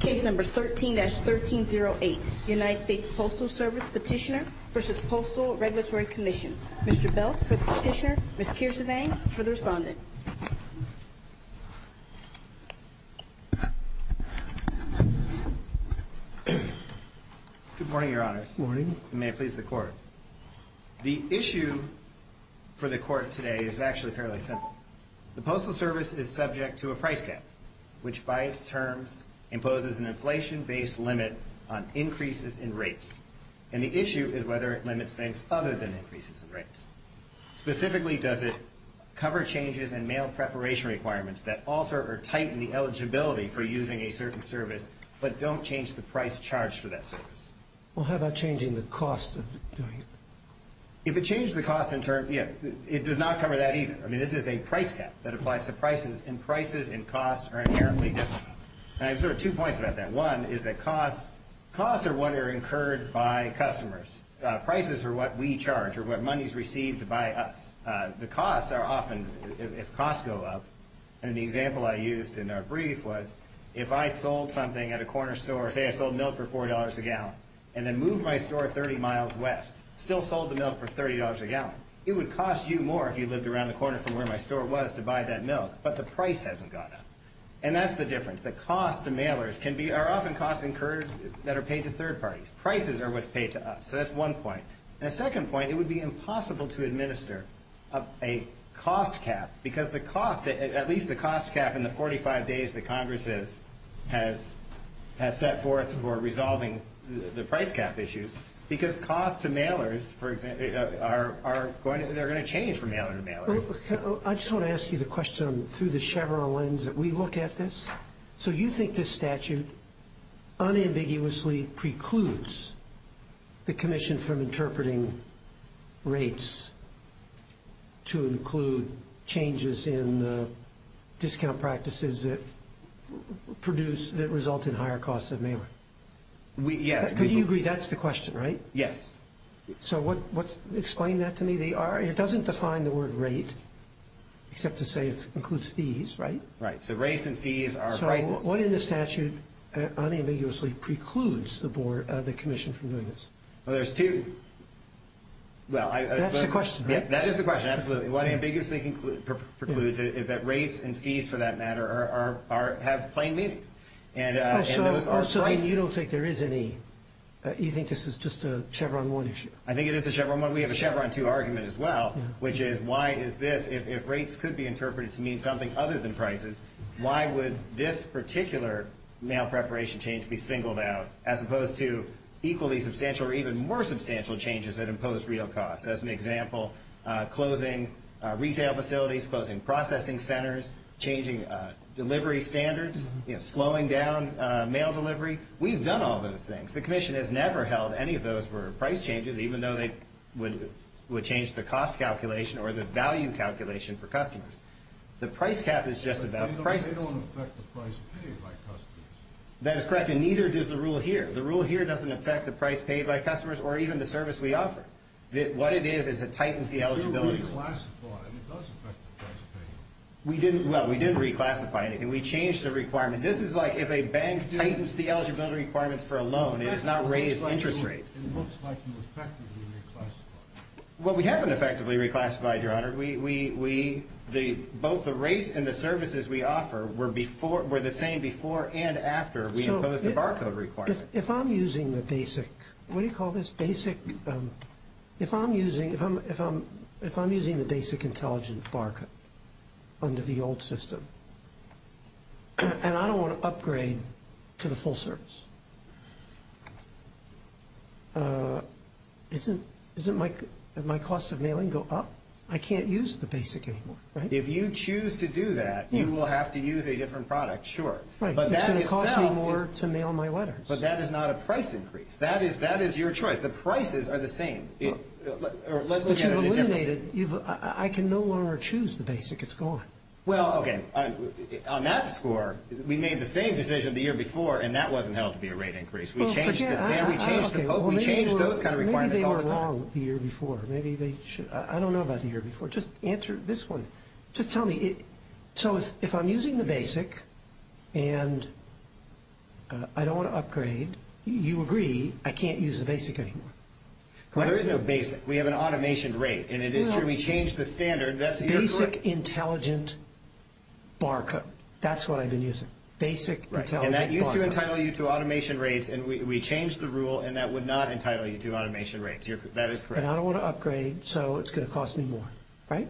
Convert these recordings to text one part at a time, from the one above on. Case No. 13-1308, United States Postal Service Petitioner v. Postal Regulatory Commission. Mr. Belt for the petitioner, Ms. Kiersevang for the respondent. Good morning, Your Honors. Good morning. And may it please the Court. The issue for the Court today is actually fairly simple. The Postal Service is subject to a price cap, which by its terms imposes an inflation-based limit on increases in rates. And the issue is whether it limits things other than increases in rates. Specifically, does it cover changes in mail preparation requirements that alter or tighten the eligibility for using a certain service, but don't change the price charged for that service? Well, how about changing the cost of doing it? If it changed the cost in terms – yeah, it does not cover that either. I mean, this is a price cap that applies to prices, and prices and costs are inherently different. And I have sort of two points about that. One is that costs – costs are what are incurred by customers. Prices are what we charge or what money is received by us. The costs are often – if costs go up – and the example I used in our brief was if I sold something at a corner store, say I sold milk for $4 a gallon, and then moved my store 30 miles west, still sold the milk for $30 a gallon, it would cost you more if you lived around the corner from where my store was to buy that milk. But the price hasn't gone up. And that's the difference. The costs to mailers can be – are often costs incurred that are paid to third parties. Prices are what's paid to us. So that's one point. And the second point, it would be impossible to administer a cost cap because the cost – at least the cost cap in the 45 days that Congress has set forth for resolving the price cap issues, because costs to mailers, for example, are going to – they're going to change from mailer to mailer. I just want to ask you the question through the Chevron lens that we look at this. So you think this statute unambiguously precludes the commission from interpreting rates to include changes in discount practices that produce – that result in higher costs of mailing? Yes. Could you agree that's the question, right? Yes. So explain that to me. It doesn't define the word rate except to say it includes fees, right? Right. So rates and fees are prices. So what in the statute unambiguously precludes the commission from doing this? Well, there's two – well, I suppose – That's the question, right? That is the question, absolutely. What unambiguously precludes it is that rates and fees, for that matter, have plain meanings. So you don't think there is any – you think this is just a Chevron 1 issue? I think it is a Chevron 1. We have a Chevron 2 argument as well, which is why is this – if rates could be interpreted to mean something other than prices, why would this particular mail preparation change be singled out as opposed to equally substantial or even more substantial changes that impose real costs? As an example, closing retail facilities, closing processing centers, changing delivery standards, slowing down mail delivery. We've done all those things. The commission has never held any of those were price changes, even though they would change the cost calculation or the value calculation for customers. The price cap is just about prices. But they don't affect the price paid by customers. That is correct, and neither does the rule here. The rule here doesn't affect the price paid by customers or even the service we offer. What it is is it tightens the eligibility rules. But you reclassified, and it does affect the price paid. We didn't – well, we didn't reclassify anything. We changed the requirement. This is like if a bank tightens the eligibility requirements for a loan. It does not raise interest rates. It looks like you effectively reclassified. Well, we haven't effectively reclassified, Your Honor. We – both the rates and the services we offer were before – were the same before and after we imposed the barcode requirement. If I'm using the basic – what do you call this? If I'm using – if I'm using the basic intelligent barcode under the old system and I don't want to upgrade to the full service, isn't my cost of mailing go up? I can't use the basic anymore, right? If you choose to do that, you will have to use a different product, sure. Right. But that itself is – It's going to cost me more to mail my letters. But that is not a price increase. That is – that is your choice. The prices are the same. Let's look at it in a different – But you've eliminated – I can no longer choose the basic. It's gone. Well, okay. On that score, we made the same decision the year before, and that wasn't held to be a rate increase. We changed the standard. We changed the – we changed those kind of requirements all the time. Maybe they were wrong the year before. Maybe they should – I don't know about the year before. Just answer this one. Just tell me – so if I'm using the basic and I don't want to upgrade, you agree I can't use the basic anymore, correct? Well, there is no basic. We have an automation rate, and it is true. We changed the standard. That's your – Basic intelligent barcode. That's what I've been using. Basic intelligent barcode. Right, and that used to entitle you to automation rates, and we changed the rule, and that would not entitle you to automation rates. That is correct. And I don't want to upgrade, so it's going to cost me more, right?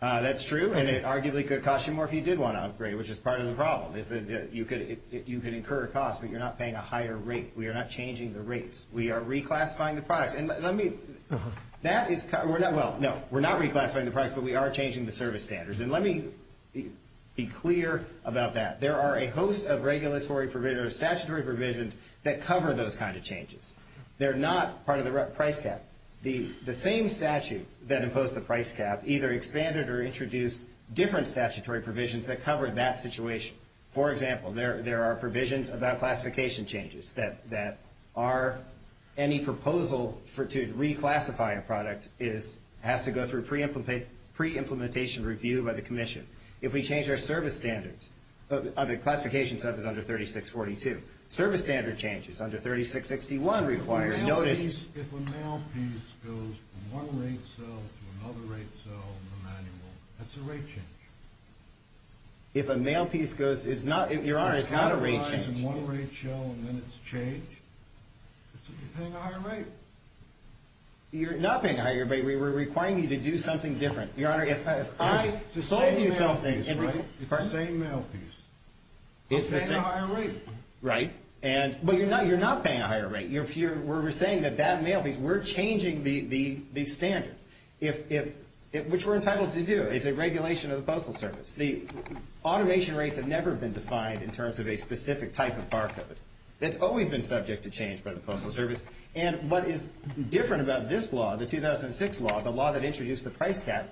That's true, and it arguably could cost you more if you did want to upgrade, which is part of the problem is that you could – you could incur a cost, but you're not paying a higher rate. We are not changing the rates. We are reclassifying the products. And let me – that is – well, no, we're not reclassifying the products, but we are changing the service standards. And let me be clear about that. There are a host of statutory provisions that cover those kind of changes. They're not part of the price cap. The same statute that imposed the price cap either expanded or introduced different statutory provisions that cover that situation. For example, there are provisions about classification changes that are – any proposal to reclassify a product is – has to go through pre-implementation review by the commission. If we change our service standards, the classification stuff is under 3642. Service standard changes under 3661 require – If a mail piece goes from one rate cell to another rate cell in the manual, that's a rate change. If a mail piece goes – it's not – Your Honor, it's not a rate change. It's not a rise in one rate cell and then it's changed. It's that you're paying a higher rate. You're not paying a higher rate. We're requiring you to do something different. Your Honor, if I sold you something – It's the same mail piece, right? It's the same mail piece. It's the same. But you're paying a higher rate. Right. And – but you're not – you're not paying a higher rate. You're – we're saying that that mail piece – we're changing the standard. Which we're entitled to do. It's a regulation of the Postal Service. The automation rates have never been defined in terms of a specific type of barcode. It's always been subject to change by the Postal Service. And what is different about this law, the 2006 law, the law that introduced the price cap,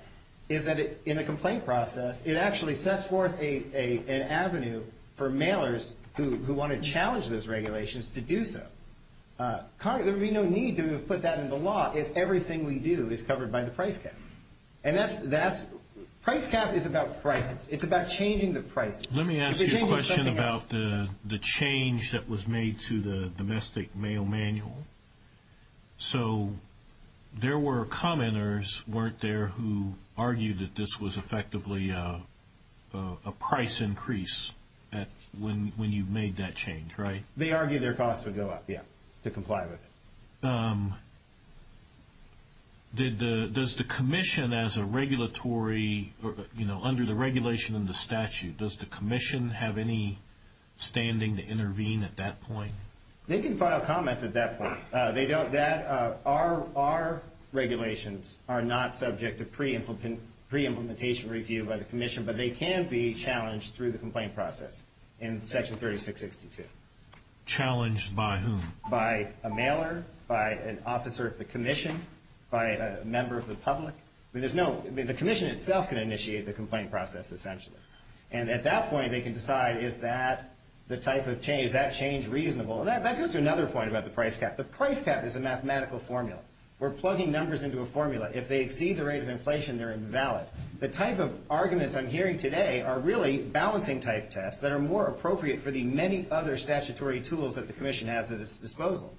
is that in the complaint process, it actually sets forth an avenue for mailers who want to challenge those regulations to do so. There would be no need to put that in the law if everything we do is covered by the price cap. And that's – price cap is about prices. It's about changing the price. Let me ask you a question about the change that was made to the domestic mail manual. So there were commenters, weren't there, who argued that this was effectively a price increase when you made that change, right? They argued their costs would go up, yeah, to comply with it. Does the commission as a regulatory – you know, under the regulation in the statute, does the commission have any standing to intervene at that point? They can file comments at that point. They don't – our regulations are not subject to pre-implementation review by the commission, but they can be challenged through the complaint process in Section 3662. Challenged by whom? By a mailer, by an officer of the commission, by a member of the public. I mean, there's no – I mean, the commission itself can initiate the complaint process, essentially. And at that point, they can decide, is that the type of change, is that change reasonable? And that goes to another point about the price cap. The price cap is a mathematical formula. We're plugging numbers into a formula. If they exceed the rate of inflation, they're invalid. The type of arguments I'm hearing today are really balancing type tests that are more appropriate for the many other statutory tools that the commission has at its disposal.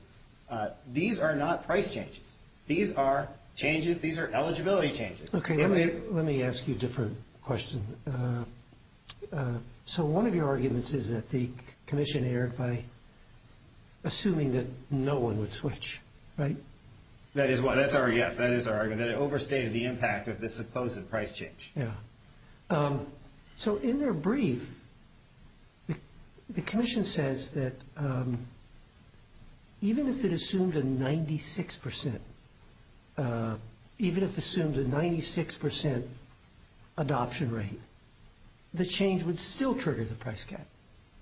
These are not price changes. These are changes – these are eligibility changes. Okay, let me ask you a different question. So one of your arguments is that the commission erred by assuming that no one would switch, right? That is why – that's our – yes, that is our argument, that it overstated the impact of this supposed price change. Yeah. So in their brief, the commission says that even if it assumed a 96% – even if it assumed a 96% adoption rate, the change would still trigger the price cap.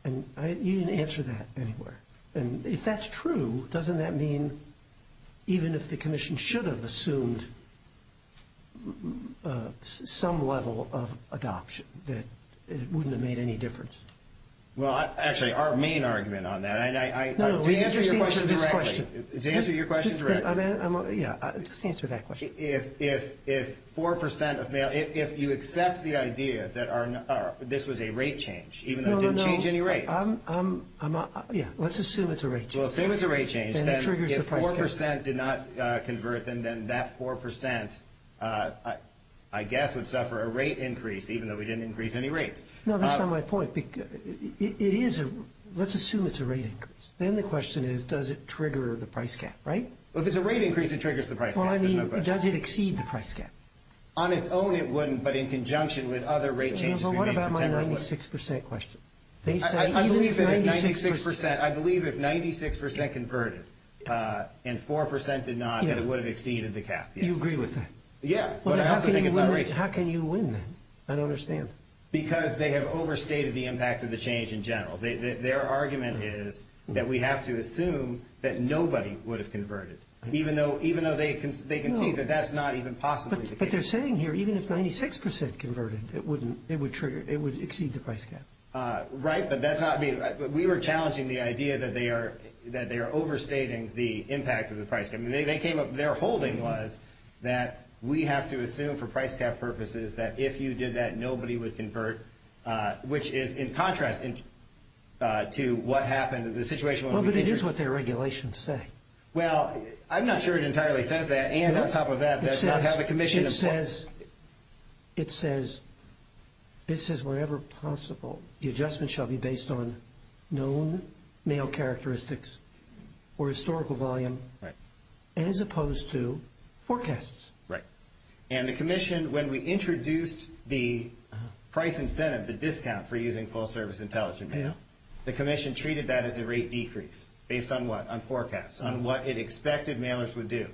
And you didn't answer that anywhere. And if that's true, doesn't that mean even if the commission should have assumed some level of adoption, that it wouldn't have made any difference? Well, actually, our main argument on that – No, no, we just answered this question. To answer your question directly. Yeah, just answer that question. If 4% of – if you accept the idea that this was a rate change, even though it didn't change any rates. Yeah, let's assume it's a rate change. Well, assume it's a rate change. And it triggers the price cap. If 4% did not convert, then that 4%, I guess, would suffer a rate increase, even though we didn't increase any rates. No, that's not my point. It is a – let's assume it's a rate increase. Then the question is, does it trigger the price cap, right? Well, if it's a rate increase, it triggers the price cap. There's no question. Well, I mean, does it exceed the price cap? On its own, it wouldn't, but in conjunction with other rate changes we made in September, it would. It's a 96% question. I believe that if 96% converted and 4% did not, then it would have exceeded the cap. You agree with that? Yeah, but I also think it's a rate change. How can you win then? I don't understand. Because they have overstated the impact of the change in general. Their argument is that we have to assume that nobody would have converted, even though they can see that that's not even possibly the case. But what they're saying here, even if 96% converted, it would trigger – it would exceed the price cap. Right, but that's not being – we were challenging the idea that they are overstating the impact of the price cap. I mean, they came up – their holding was that we have to assume for price cap purposes that if you did that, nobody would convert, which is in contrast to what happened in the situation when we did. Well, but it is what their regulations say. Well, I'm not sure it entirely says that. And on top of that, that's not how the commission – It says – it says – it says wherever possible, the adjustment shall be based on known mail characteristics or historical volume as opposed to forecasts. Right. And the commission, when we introduced the price incentive, the discount for using full-service intelligent mail, the commission treated that as a rate decrease. Based on what? Based on forecasts, on what it expected mailers would do.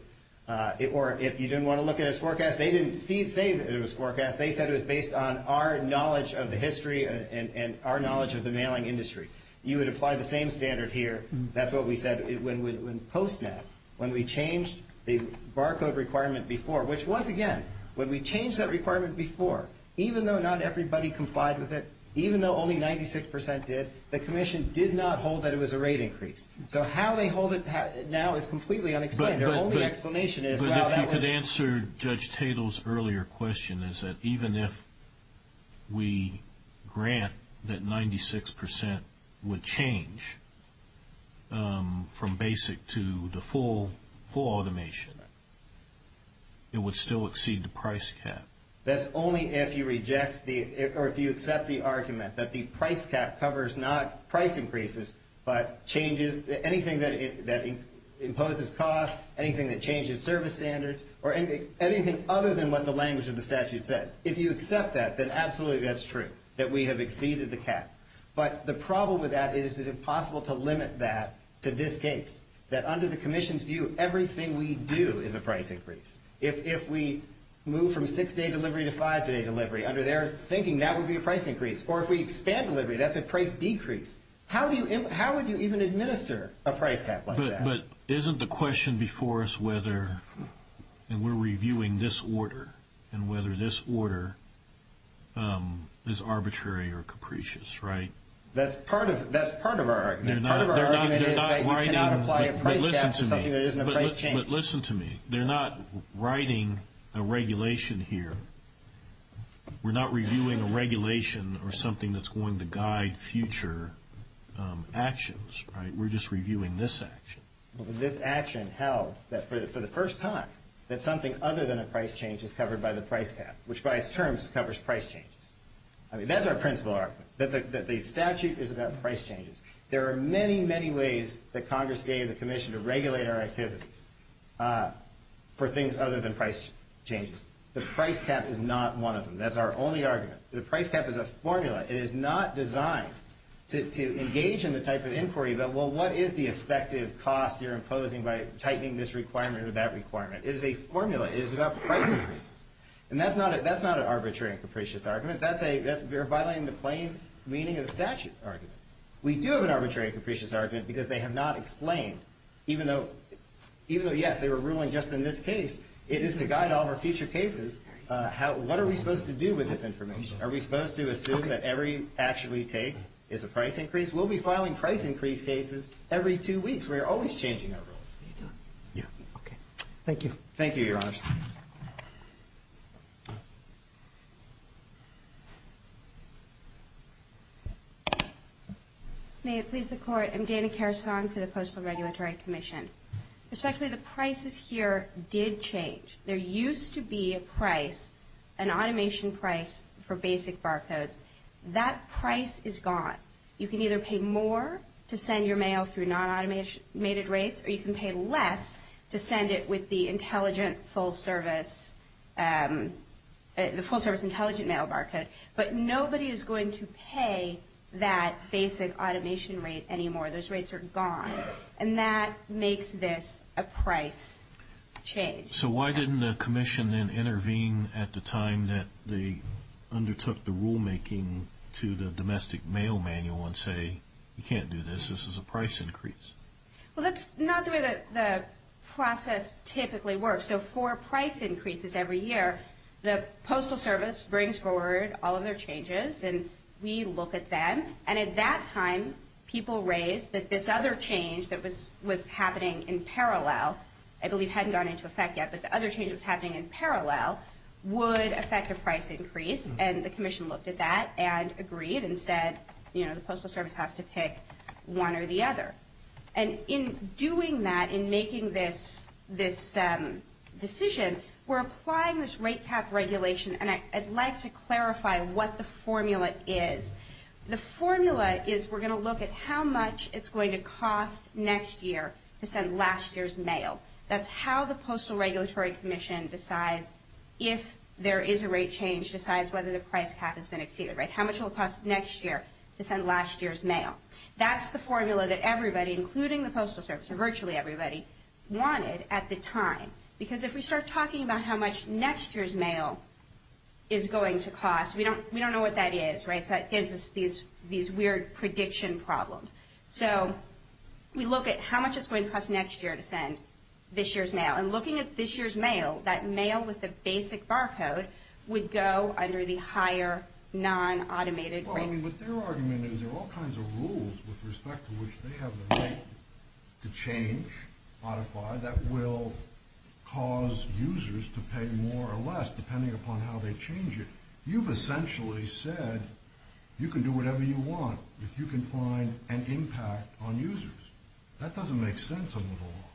Or if you didn't want to look at its forecast, they didn't say that it was forecast. They said it was based on our knowledge of the history and our knowledge of the mailing industry. You would apply the same standard here. That's what we said when PostNet, when we changed the barcode requirement before, which once again, when we changed that requirement before, even though not everybody complied with it, even though only 96% did, the commission did not hold that it was a rate increase. So how they hold it now is completely unexplained. Their only explanation is – But if you could answer Judge Tatel's earlier question, is that even if we grant that 96% would change from basic to the full automation, it would still exceed the price cap. That's only if you reject the – or if you accept the argument that the price cap covers not price increases, but changes anything that imposes cost, anything that changes service standards, or anything other than what the language of the statute says. If you accept that, then absolutely that's true, that we have exceeded the cap. But the problem with that is it impossible to limit that to this case, that under the commission's view, everything we do is a price increase. If we move from six-day delivery to five-day delivery, under their thinking, that would be a price increase. Or if we expand delivery, that's a price decrease. How would you even administer a price cap like that? But isn't the question before us whether – and we're reviewing this order – and whether this order is arbitrary or capricious, right? That's part of our argument. Part of our argument is that you cannot apply a price cap to something that isn't a price change. But listen to me. They're not writing a regulation here. We're not reviewing a regulation or something that's going to guide future actions, right? We're just reviewing this action. This action held that for the first time, that something other than a price change is covered by the price cap, which by its terms covers price changes. I mean, that's our principle argument, that the statute is about price changes. There are many, many ways that Congress gave the commission to regulate our activities for things other than price changes. The price cap is not one of them. That's our only argument. The price cap is a formula. It is not designed to engage in the type of inquiry about, well, what is the effective cost you're imposing by tightening this requirement or that requirement? It is a formula. It is about price increases. And that's not an arbitrary and capricious argument. That's violating the plain meaning of the statute argument. We do have an arbitrary and capricious argument because they have not explained, even though, yes, they were ruling just in this case, it is to guide all of our future cases. What are we supposed to do with this information? Are we supposed to assume that every action we take is a price increase? We'll be filing price increase cases every two weeks. We are always changing our rules. Okay. Thank you. Thank you, Your Honor. May it please the Court. I'm Dana Karasong for the Postal Regulatory Commission. Respectfully, the prices here did change. There used to be a price, an automation price for basic barcodes. That price is gone. You can either pay more to send your mail through non-automated rates, or you can pay less to send it with the intelligent full service, the full service intelligent mail barcode. But nobody is going to pay that basic automation rate anymore. Those rates are gone. And that makes this a price change. So why didn't the commission then intervene at the time that they undertook the rulemaking to the domestic mail manual and say, you can't do this, this is a price increase? Well, that's not the way the process typically works. So for price increases every year, the Postal Service brings forward all of their changes, and we look at them. And at that time, people raised that this other change that was happening in parallel, I believe hadn't gone into effect yet, but the other change that was happening in parallel would affect a price increase, and the commission looked at that and agreed and said, you know, the Postal Service has to pick one or the other. And in doing that, in making this decision, we're applying this rate cap regulation, and I'd like to clarify what the formula is. The formula is we're going to look at how much it's going to cost next year to send last year's mail. That's how the Postal Regulatory Commission decides if there is a rate change, decides whether the price cap has been exceeded, right? How much will it cost next year to send last year's mail? That's the formula that everybody, including the Postal Service, or virtually everybody, wanted at the time. Because if we start talking about how much next year's mail is going to cost, we don't know what that is, right? Because that gives us these weird prediction problems. So we look at how much it's going to cost next year to send this year's mail. And looking at this year's mail, that mail with the basic barcode would go under the higher non-automated rate. Well, I mean, what their argument is there are all kinds of rules with respect to which they have the right to change, modify, that will cause users to pay more or less depending upon how they change it. You've essentially said you can do whatever you want if you can find an impact on users. That doesn't make sense at all.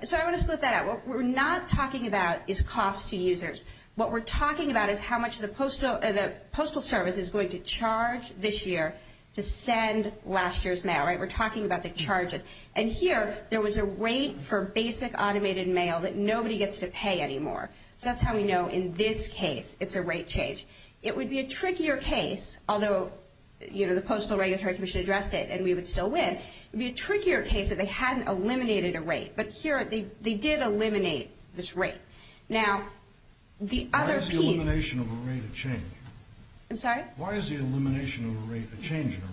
So I want to split that out. What we're not talking about is cost to users. What we're talking about is how much the Postal Service is going to charge this year to send last year's mail, right? We're talking about the charges. And here, there was a rate for basic automated mail that nobody gets to pay anymore. So that's how we know in this case it's a rate change. It would be a trickier case, although, you know, the Postal Regulatory Commission addressed it, and we would still win. It would be a trickier case if they hadn't eliminated a rate. But here, they did eliminate this rate. Now, the other piece of this. Why is the elimination of a rate a change? I'm sorry? Why is the elimination of a rate a change in a rate?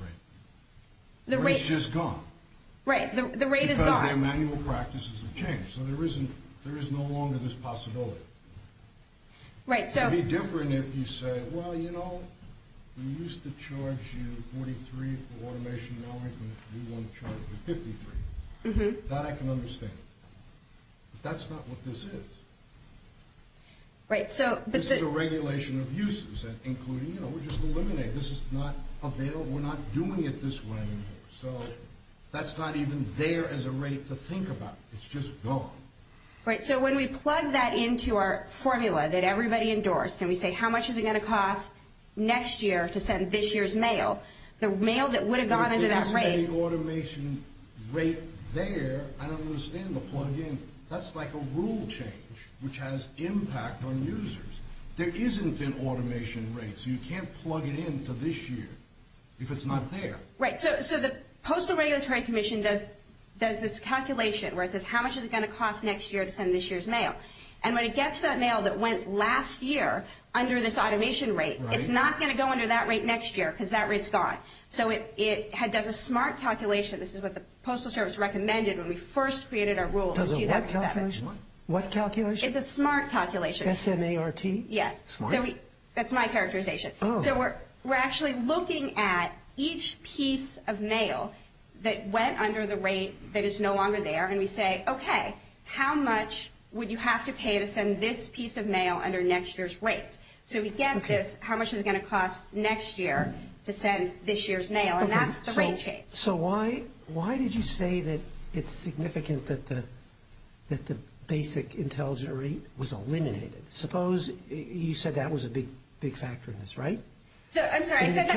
The rate is just gone. Right. The rate is gone. Because their manual practices have changed. So there is no longer this possibility. It would be different if you said, well, you know, we used to charge you $43 for automation. Now we're going to charge you $53. That I can understand. But that's not what this is. This is a regulation of uses, including, you know, we're just eliminating. This is not available. We're not doing it this way anymore. So that's not even there as a rate to think about. It's just gone. Right. So when we plug that into our formula that everybody endorsed, and we say how much is it going to cost next year to send this year's mail, the mail that would have gone into that rate. If there isn't any automation rate there, I don't understand the plug-in. That's like a rule change, which has impact on users. There isn't an automation rate. So you can't plug it into this year if it's not there. Right. So the Postal Regulatory Commission does this calculation, where it says how much is it going to cost next year to send this year's mail. And when it gets that mail that went last year under this automation rate, it's not going to go under that rate next year because that rate's gone. So it does a smart calculation. This is what the Postal Service recommended when we first created our rule in 2007. Does a what calculation? What calculation? It's a smart calculation. S-M-A-R-T? Yes. Smart? That's my characterization. So we're actually looking at each piece of mail that went under the rate that is no longer there, and we say, okay, how much would you have to pay to send this piece of mail under next year's rates? So we get this, how much is it going to cost next year to send this year's mail? And that's the rate change. So why did you say that it's significant that the basic intelligent rate was eliminated? Suppose you said that was a big factor in this, right? I'm sorry. I think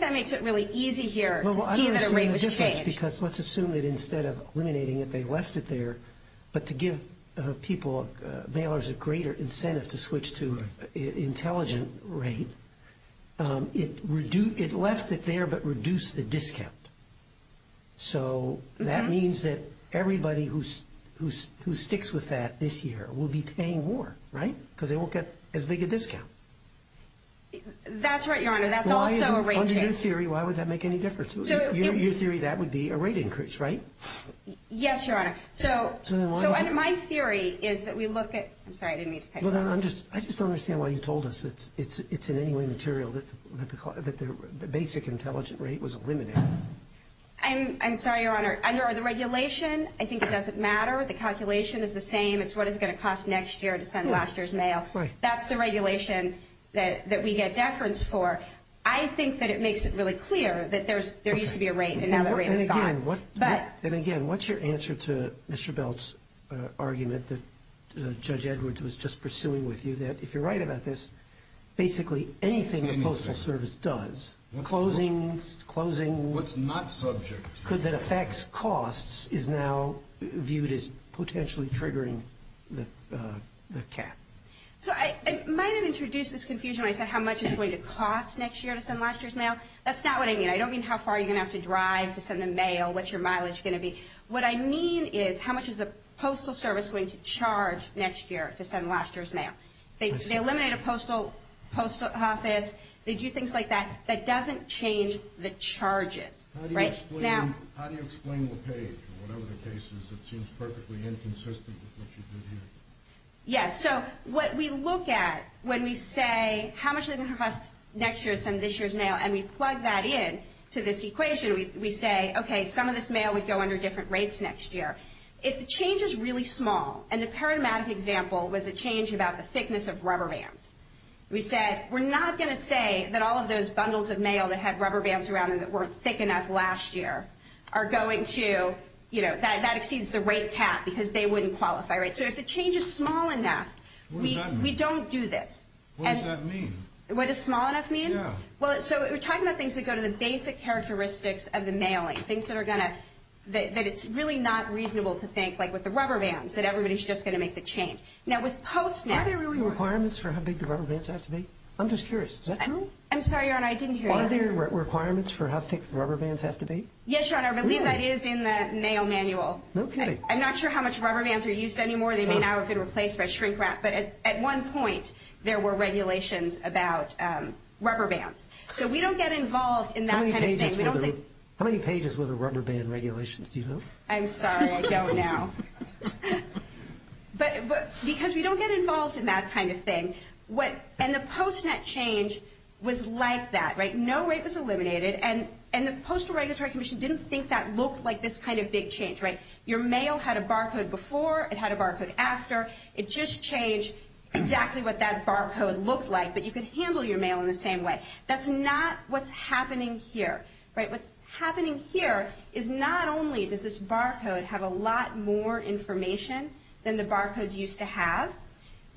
that makes it really easy here to see that a rate was changed. Well, I'm going to assume the difference because let's assume that instead of eliminating it, they left it there, but to give mailers a greater incentive to switch to intelligent rate, it left it there but reduced the discount. So that means that everybody who sticks with that this year will be paying more, right? Because they won't get as big a discount. That's right, Your Honor. That's also a rate change. On your theory, why would that make any difference? Your theory, that would be a rate increase, right? Yes, Your Honor. So my theory is that we look at – I'm sorry, I didn't mean to cut you off. I just don't understand why you told us it's in any way material that the basic intelligent rate was eliminated. I'm sorry, Your Honor. Under the regulation, I think it doesn't matter. The calculation is the same. It's what it's going to cost next year to send last year's mail. That's the regulation that we get deference for. I think that it makes it really clear that there used to be a rate and now the rate is gone. Then again, what's your answer to Mr. Belt's argument that Judge Edwards was just pursuing with you, that if you're right about this, basically anything the Postal Service does, closings, closing – What's not subject. – that affects costs is now viewed as potentially triggering the cap. So I might have introduced this confusion when I said how much it's going to cost next year to send last year's mail. That's not what I mean. I don't mean how far you're going to have to drive to send the mail, what your mileage is going to be. What I mean is how much is the Postal Service going to charge next year to send last year's mail. They eliminate a postal office. They do things like that. That doesn't change the charges. How do you explain the page? Whatever the case is, it seems perfectly inconsistent with what you did here. Yes, so what we look at when we say how much they're going to cost next year to send this year's mail, and we plug that in to this equation, we say, okay, some of this mail would go under different rates next year. If the change is really small, and the paradigmatic example was a change about the thickness of rubber bands, we said we're not going to say that all of those bundles of mail that had rubber bands around them that weren't thick enough last year are going to – that exceeds the rate cap because they wouldn't qualify. So if the change is small enough, we don't do this. What does that mean? What does small enough mean? Yeah. Well, so we're talking about things that go to the basic characteristics of the mailing, things that are going to – that it's really not reasonable to think, like with the rubber bands, that everybody's just going to make the change. Now, with PostNet – Are there really requirements for how big the rubber bands have to be? I'm just curious. Is that true? I'm sorry, Your Honor, I didn't hear you. Are there requirements for how thick the rubber bands have to be? Yes, Your Honor, I believe that is in the mail manual. No kidding. I'm not sure how much rubber bands are used anymore. They may now have been replaced by shrink wrap. But at one point, there were regulations about rubber bands. So we don't get involved in that kind of thing. How many pages were the rubber band regulations? Do you know? I'm sorry. I don't know. But because we don't get involved in that kind of thing, what – and the PostNet change was like that, right? No rate was eliminated. And the Postal Regulatory Commission didn't think that looked like this kind of big change, right? Your mail had a barcode before. It had a barcode after. It just changed exactly what that barcode looked like. But you could handle your mail in the same way. That's not what's happening here, right? What's happening here is not only does this barcode have a lot more information than the barcodes used to have.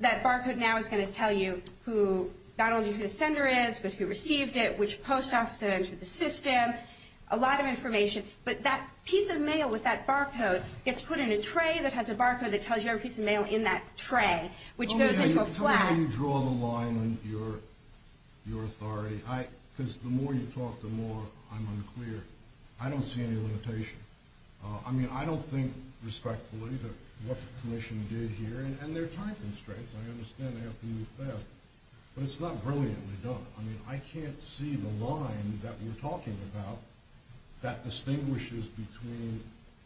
That barcode now is going to tell you who – not only who the sender is, but who received it, which post office that entered the system, a lot of information. But that piece of mail with that barcode gets put in a tray that has a barcode that tells you every piece of mail in that tray, which goes into a flag. How do you draw the line on your authority? Because the more you talk, the more I'm unclear. I don't see any limitation. I mean, I don't think respectfully that what the Commission did here – and there are time constraints. I understand they have to move fast. But it's not brilliantly done. I mean, I can't see the line that we're talking about that distinguishes between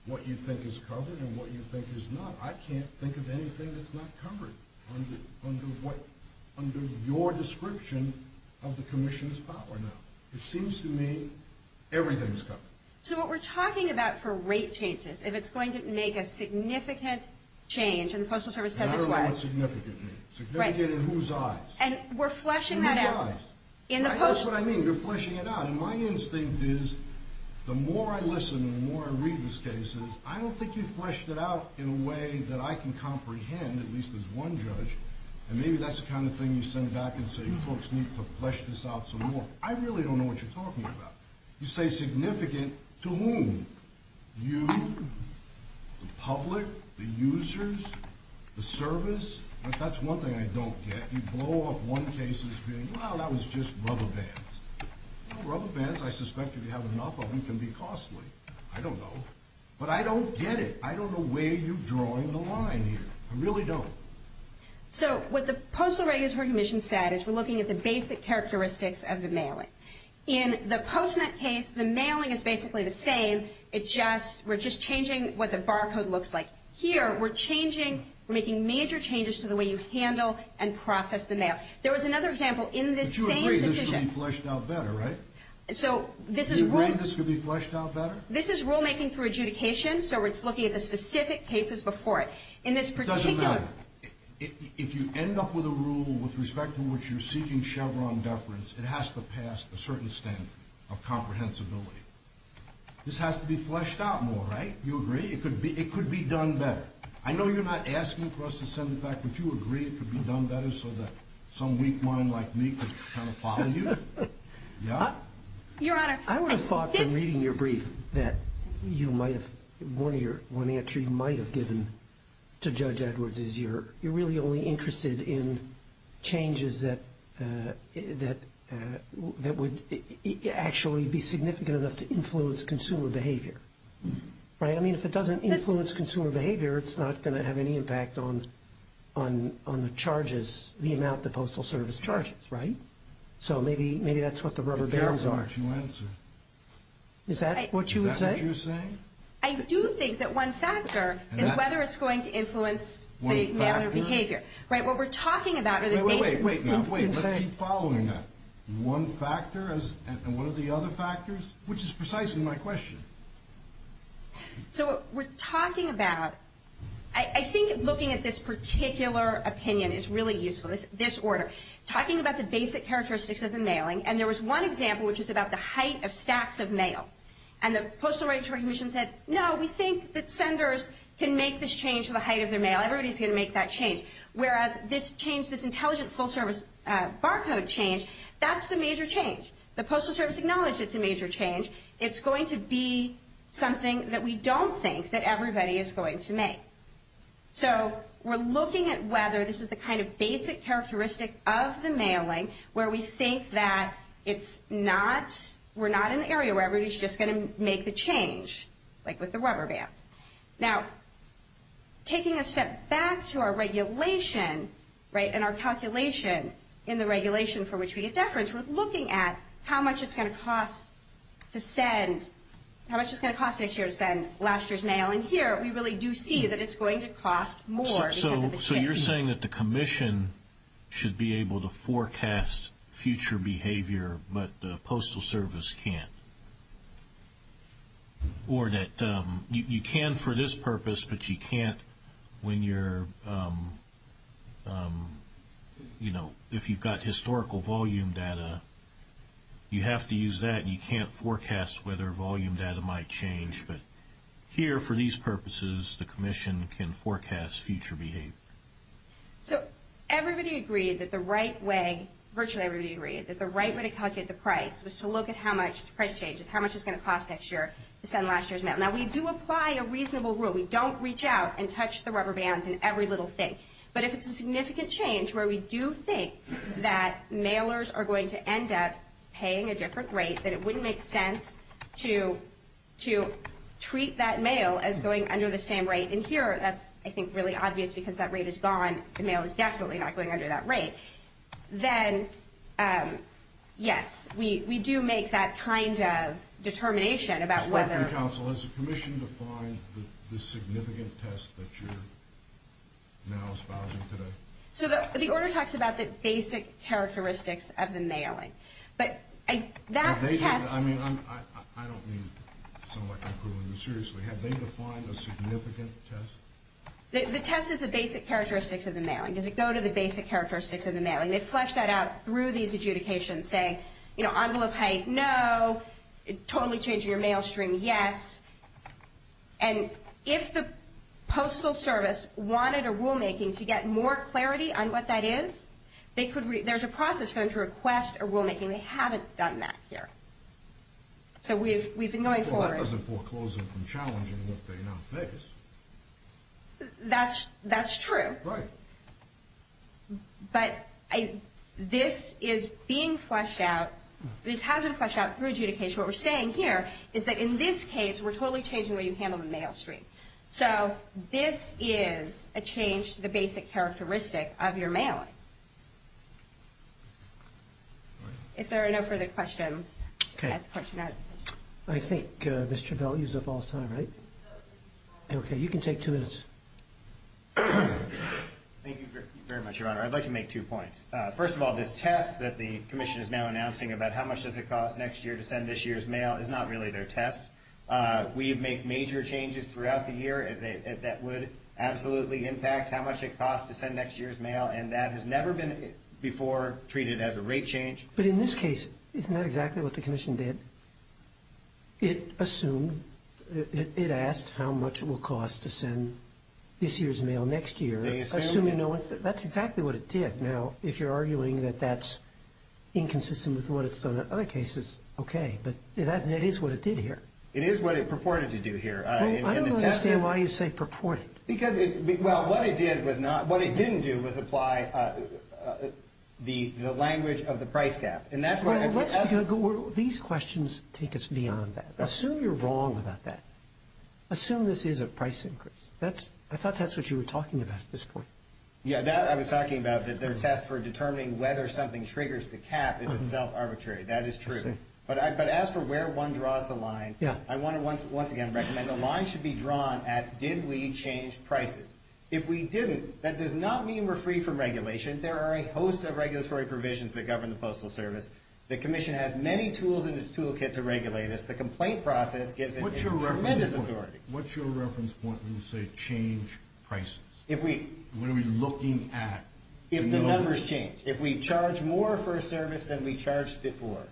what you think is covered and what you think is not. I can't think of anything that's not covered under what – under your description of the Commission's power now. It seems to me everything's covered. So what we're talking about for rate changes, if it's going to make a significant change – and the Postal Service said this was. And I don't know what significant means. Significant in whose eyes? And we're fleshing that out. In whose eyes? That's what I mean. You're fleshing it out. And my instinct is the more I listen and the more I read these cases, I don't think you've fleshed it out in a way that I can comprehend, at least as one judge. And maybe that's the kind of thing you send back and say, folks need to flesh this out some more. I really don't know what you're talking about. You say significant to whom? You? The public? The users? The service? That's one thing I don't get. You blow up one case as being, wow, that was just rubber bands. Rubber bands, I suspect if you have enough of them, can be costly. I don't know. But I don't get it. I don't know where you're drawing the line here. I really don't. So what the Postal Regulatory Commission said is we're looking at the basic characteristics of the mailing. In the PostNet case, the mailing is basically the same. It just – we're just changing what the barcode looks like. Here, we're changing – we're making major changes to the way you handle and process the mail. There was another example in this same decision. But you agree this could be fleshed out better, right? So this is – You agree this could be fleshed out better? This is rulemaking through adjudication, so it's looking at the specific cases before it. In this particular – It doesn't matter. If you end up with a rule with respect to which you're seeking Chevron deference, it has to pass a certain standard of comprehensibility. This has to be fleshed out more, right? You agree? It could be done better. I know you're not asking for us to send it back, but you agree it could be done better so that some weak mind like me could kind of follow you? Yeah? Your Honor, this – I would have thought from reading your brief that you might have – one answer you might have given to Judge Edwards is you're really only interested in changes that would actually be significant enough to influence consumer behavior, right? I mean, if it doesn't influence consumer behavior, it's not going to have any impact on the charges, the amount the Postal Service charges, right? So maybe that's what the rubber bands are. Be careful what you answer. Is that what you would say? Is that what you're saying? I do think that one factor is whether it's going to influence the mailer behavior. One factor? Right? What we're talking about are the cases. Wait, wait, wait. Let's keep following that. One factor, and what are the other factors? Which is precisely my question. So we're talking about – I think looking at this particular opinion is really useful, this order. Talking about the basic characteristics of the mailing, and there was one example which was about the height of stacks of mail. And the Postal Regulatory Commission said, no, we think that senders can make this change to the height of their mail. Everybody's going to make that change. Whereas this change, this intelligent, full-service barcode change, that's a major change. The Postal Service acknowledged it's a major change. It's going to be something that we don't think that everybody is going to make. So we're looking at whether this is the kind of basic characteristic of the mailing where we think that it's not – we're not in the area where everybody's just going to make the change, like with the rubber bands. Now, taking a step back to our regulation, right, and our calculation in the regulation for which we get deference, we're looking at how much it's going to cost to send – how much it's going to cost each year to send last year's mail. And here we really do see that it's going to cost more. So you're saying that the commission should be able to forecast future behavior, but the Postal Service can't? Or that you can for this purpose, but you can't when you're – you know, if you've got historical volume data, you have to use that and you can't forecast whether volume data might change. But here, for these purposes, the commission can forecast future behavior. So everybody agreed that the right way – virtually everybody agreed that the right way to calculate the price was to look at how much the price changes, how much it's going to cost next year to send last year's mail. Now, we do apply a reasonable rule. We don't reach out and touch the rubber bands in every little thing. But if it's a significant change where we do think that mailers are going to end up paying a different rate, that it wouldn't make sense to treat that mail as going under the same rate, and here that's, I think, really obvious because that rate is gone. The mail is definitely not going under that rate. Then, yes, we do make that kind of determination about whether – Spoken counsel, has the commission defined the significant test that you're now espousing today? So the order talks about the basic characteristics of the mailing. But that test – I mean, I don't mean to sound like I'm quibbling, but seriously, have they defined a significant test? The test is the basic characteristics of the mailing. Does it go to the basic characteristics of the mailing? They flesh that out through these adjudications saying, you know, envelope height, no. Totally changing your mail stream, yes. And if the Postal Service wanted a rulemaking to get more clarity on what that is, there's a process for them to request a rulemaking. They haven't done that here. So we've been going forward. Well, that doesn't foreclose them from challenging what they now face. That's true. Right. But this is being fleshed out. This has been fleshed out through adjudication. What we're saying here is that in this case, we're totally changing the way you handle the mail stream. So this is a change to the basic characteristic of your mailing. If there are no further questions, I'll ask the question out of the commission. I think Ms. Travell used up all her time, right? Okay. You can take two minutes. Thank you very much, Your Honor. I'd like to make two points. First of all, this test that the commission is now announcing about how much does it cost next year to send this year's mail is not really their test. We make major changes throughout the year that would absolutely impact how much it costs to send next year's mail, and that has never been before treated as a rate change. But in this case, isn't that exactly what the commission did? It assumed, it asked how much it will cost to send this year's mail next year. They assumed? That's exactly what it did. Now, if you're arguing that that's inconsistent with what it's done in other cases, okay. But that is what it did here. It is what it purported to do here. I don't understand why you say purported. Well, what it did was not, what it didn't do was apply the language of the price gap. These questions take us beyond that. Assume you're wrong about that. Assume this is a price increase. I thought that's what you were talking about at this point. Yeah, that I was talking about, that their test for determining whether something triggers the cap is itself arbitrary. That is true. But as for where one draws the line, I want to once again recommend the line should be drawn at did we change prices. If we didn't, that does not mean we're free from regulation. There are a host of regulatory provisions that govern the Postal Service. The Commission has many tools in its toolkit to regulate us. The complaint process gives it tremendous authority. What's your reference point when you say change prices? What are we looking at? If the numbers change. If we charge more for a service than we charged before.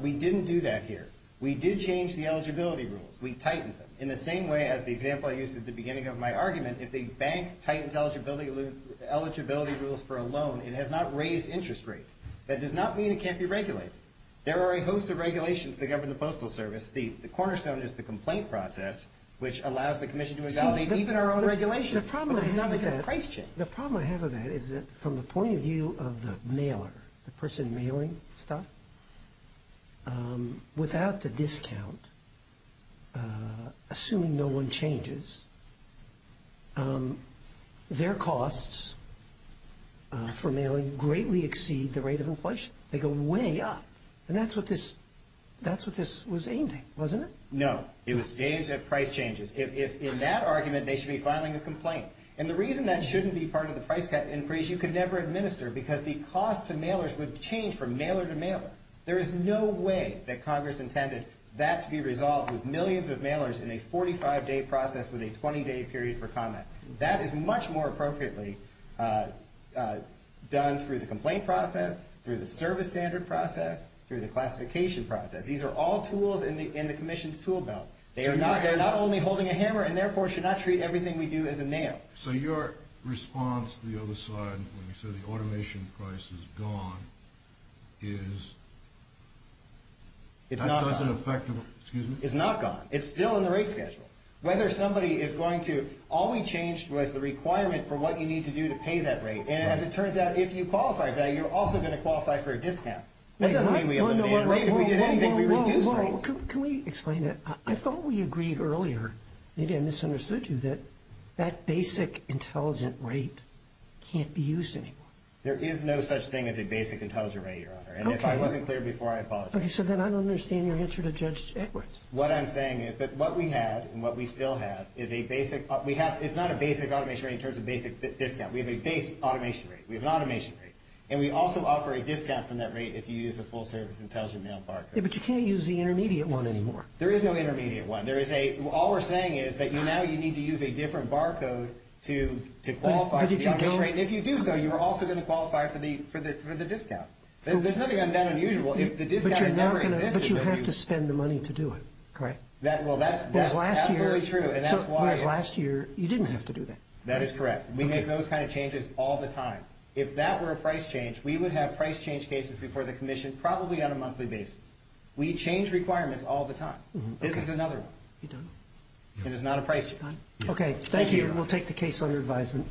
We didn't do that here. We did change the eligibility rules. We tightened them. In the same way as the example I used at the beginning of my argument, if a bank tightens eligibility rules for a loan, it has not raised interest rates. That does not mean it can't be regulated. There are a host of regulations that govern the Postal Service. The cornerstone is the complaint process, which allows the Commission to invalidate even our own regulations. But it does not make a price change. The problem I have with that is that from the point of view of the mailer, the person mailing stuff, without the discount, assuming no one changes, their costs for mailing greatly exceed the rate of inflation. They go way up. And that's what this was aiming, wasn't it? No. It was aimed at price changes. In that argument, they should be filing a complaint. And the reason that shouldn't be part of the price increase, you could never administer, because the cost to mailers would change from mailer to mailer. There is no way that Congress intended that to be resolved with millions of mailers in a 45-day process with a 20-day period for comment. That is much more appropriately done through the complaint process, through the service standard process, through the classification process. These are all tools in the Commission's tool belt. They're not only holding a hammer, and therefore should not treat everything we do as a nail. So your response to the other side, when you said the automation price is gone, is that doesn't affect the rate? It's not gone. It's still in the rate schedule. Whether somebody is going to – all we changed was the requirement for what you need to do to pay that rate. And as it turns out, if you qualify for that, you're also going to qualify for a discount. That doesn't mean we eliminated rate. If we did anything, we reduced rates. Well, can we explain that? I thought we agreed earlier – maybe I misunderstood you – that that basic intelligent rate can't be used anymore. There is no such thing as a basic intelligent rate, Your Honor. And if I wasn't clear before, I apologize. Okay, so then I don't understand your answer to Judge Edwards. What I'm saying is that what we have and what we still have is a basic – it's not a basic automation rate in terms of basic discount. We have a base automation rate. We have an automation rate. And we also offer a discount from that rate if you use a full-service intelligent mail barcode. But you can't use the intermediate one anymore. There is no intermediate one. All we're saying is that now you need to use a different barcode to qualify for the average rate. And if you do so, you are also going to qualify for the discount. There's nothing unusual. But you have to spend the money to do it, correct? Well, that's absolutely true. Whereas last year, you didn't have to do that. That is correct. We make those kind of changes all the time. If that were a price change, we would have price change cases before the commission probably on a monthly basis. We change requirements all the time. This is another one. It is not a price change. Okay, thank you. We'll take the case under advisement.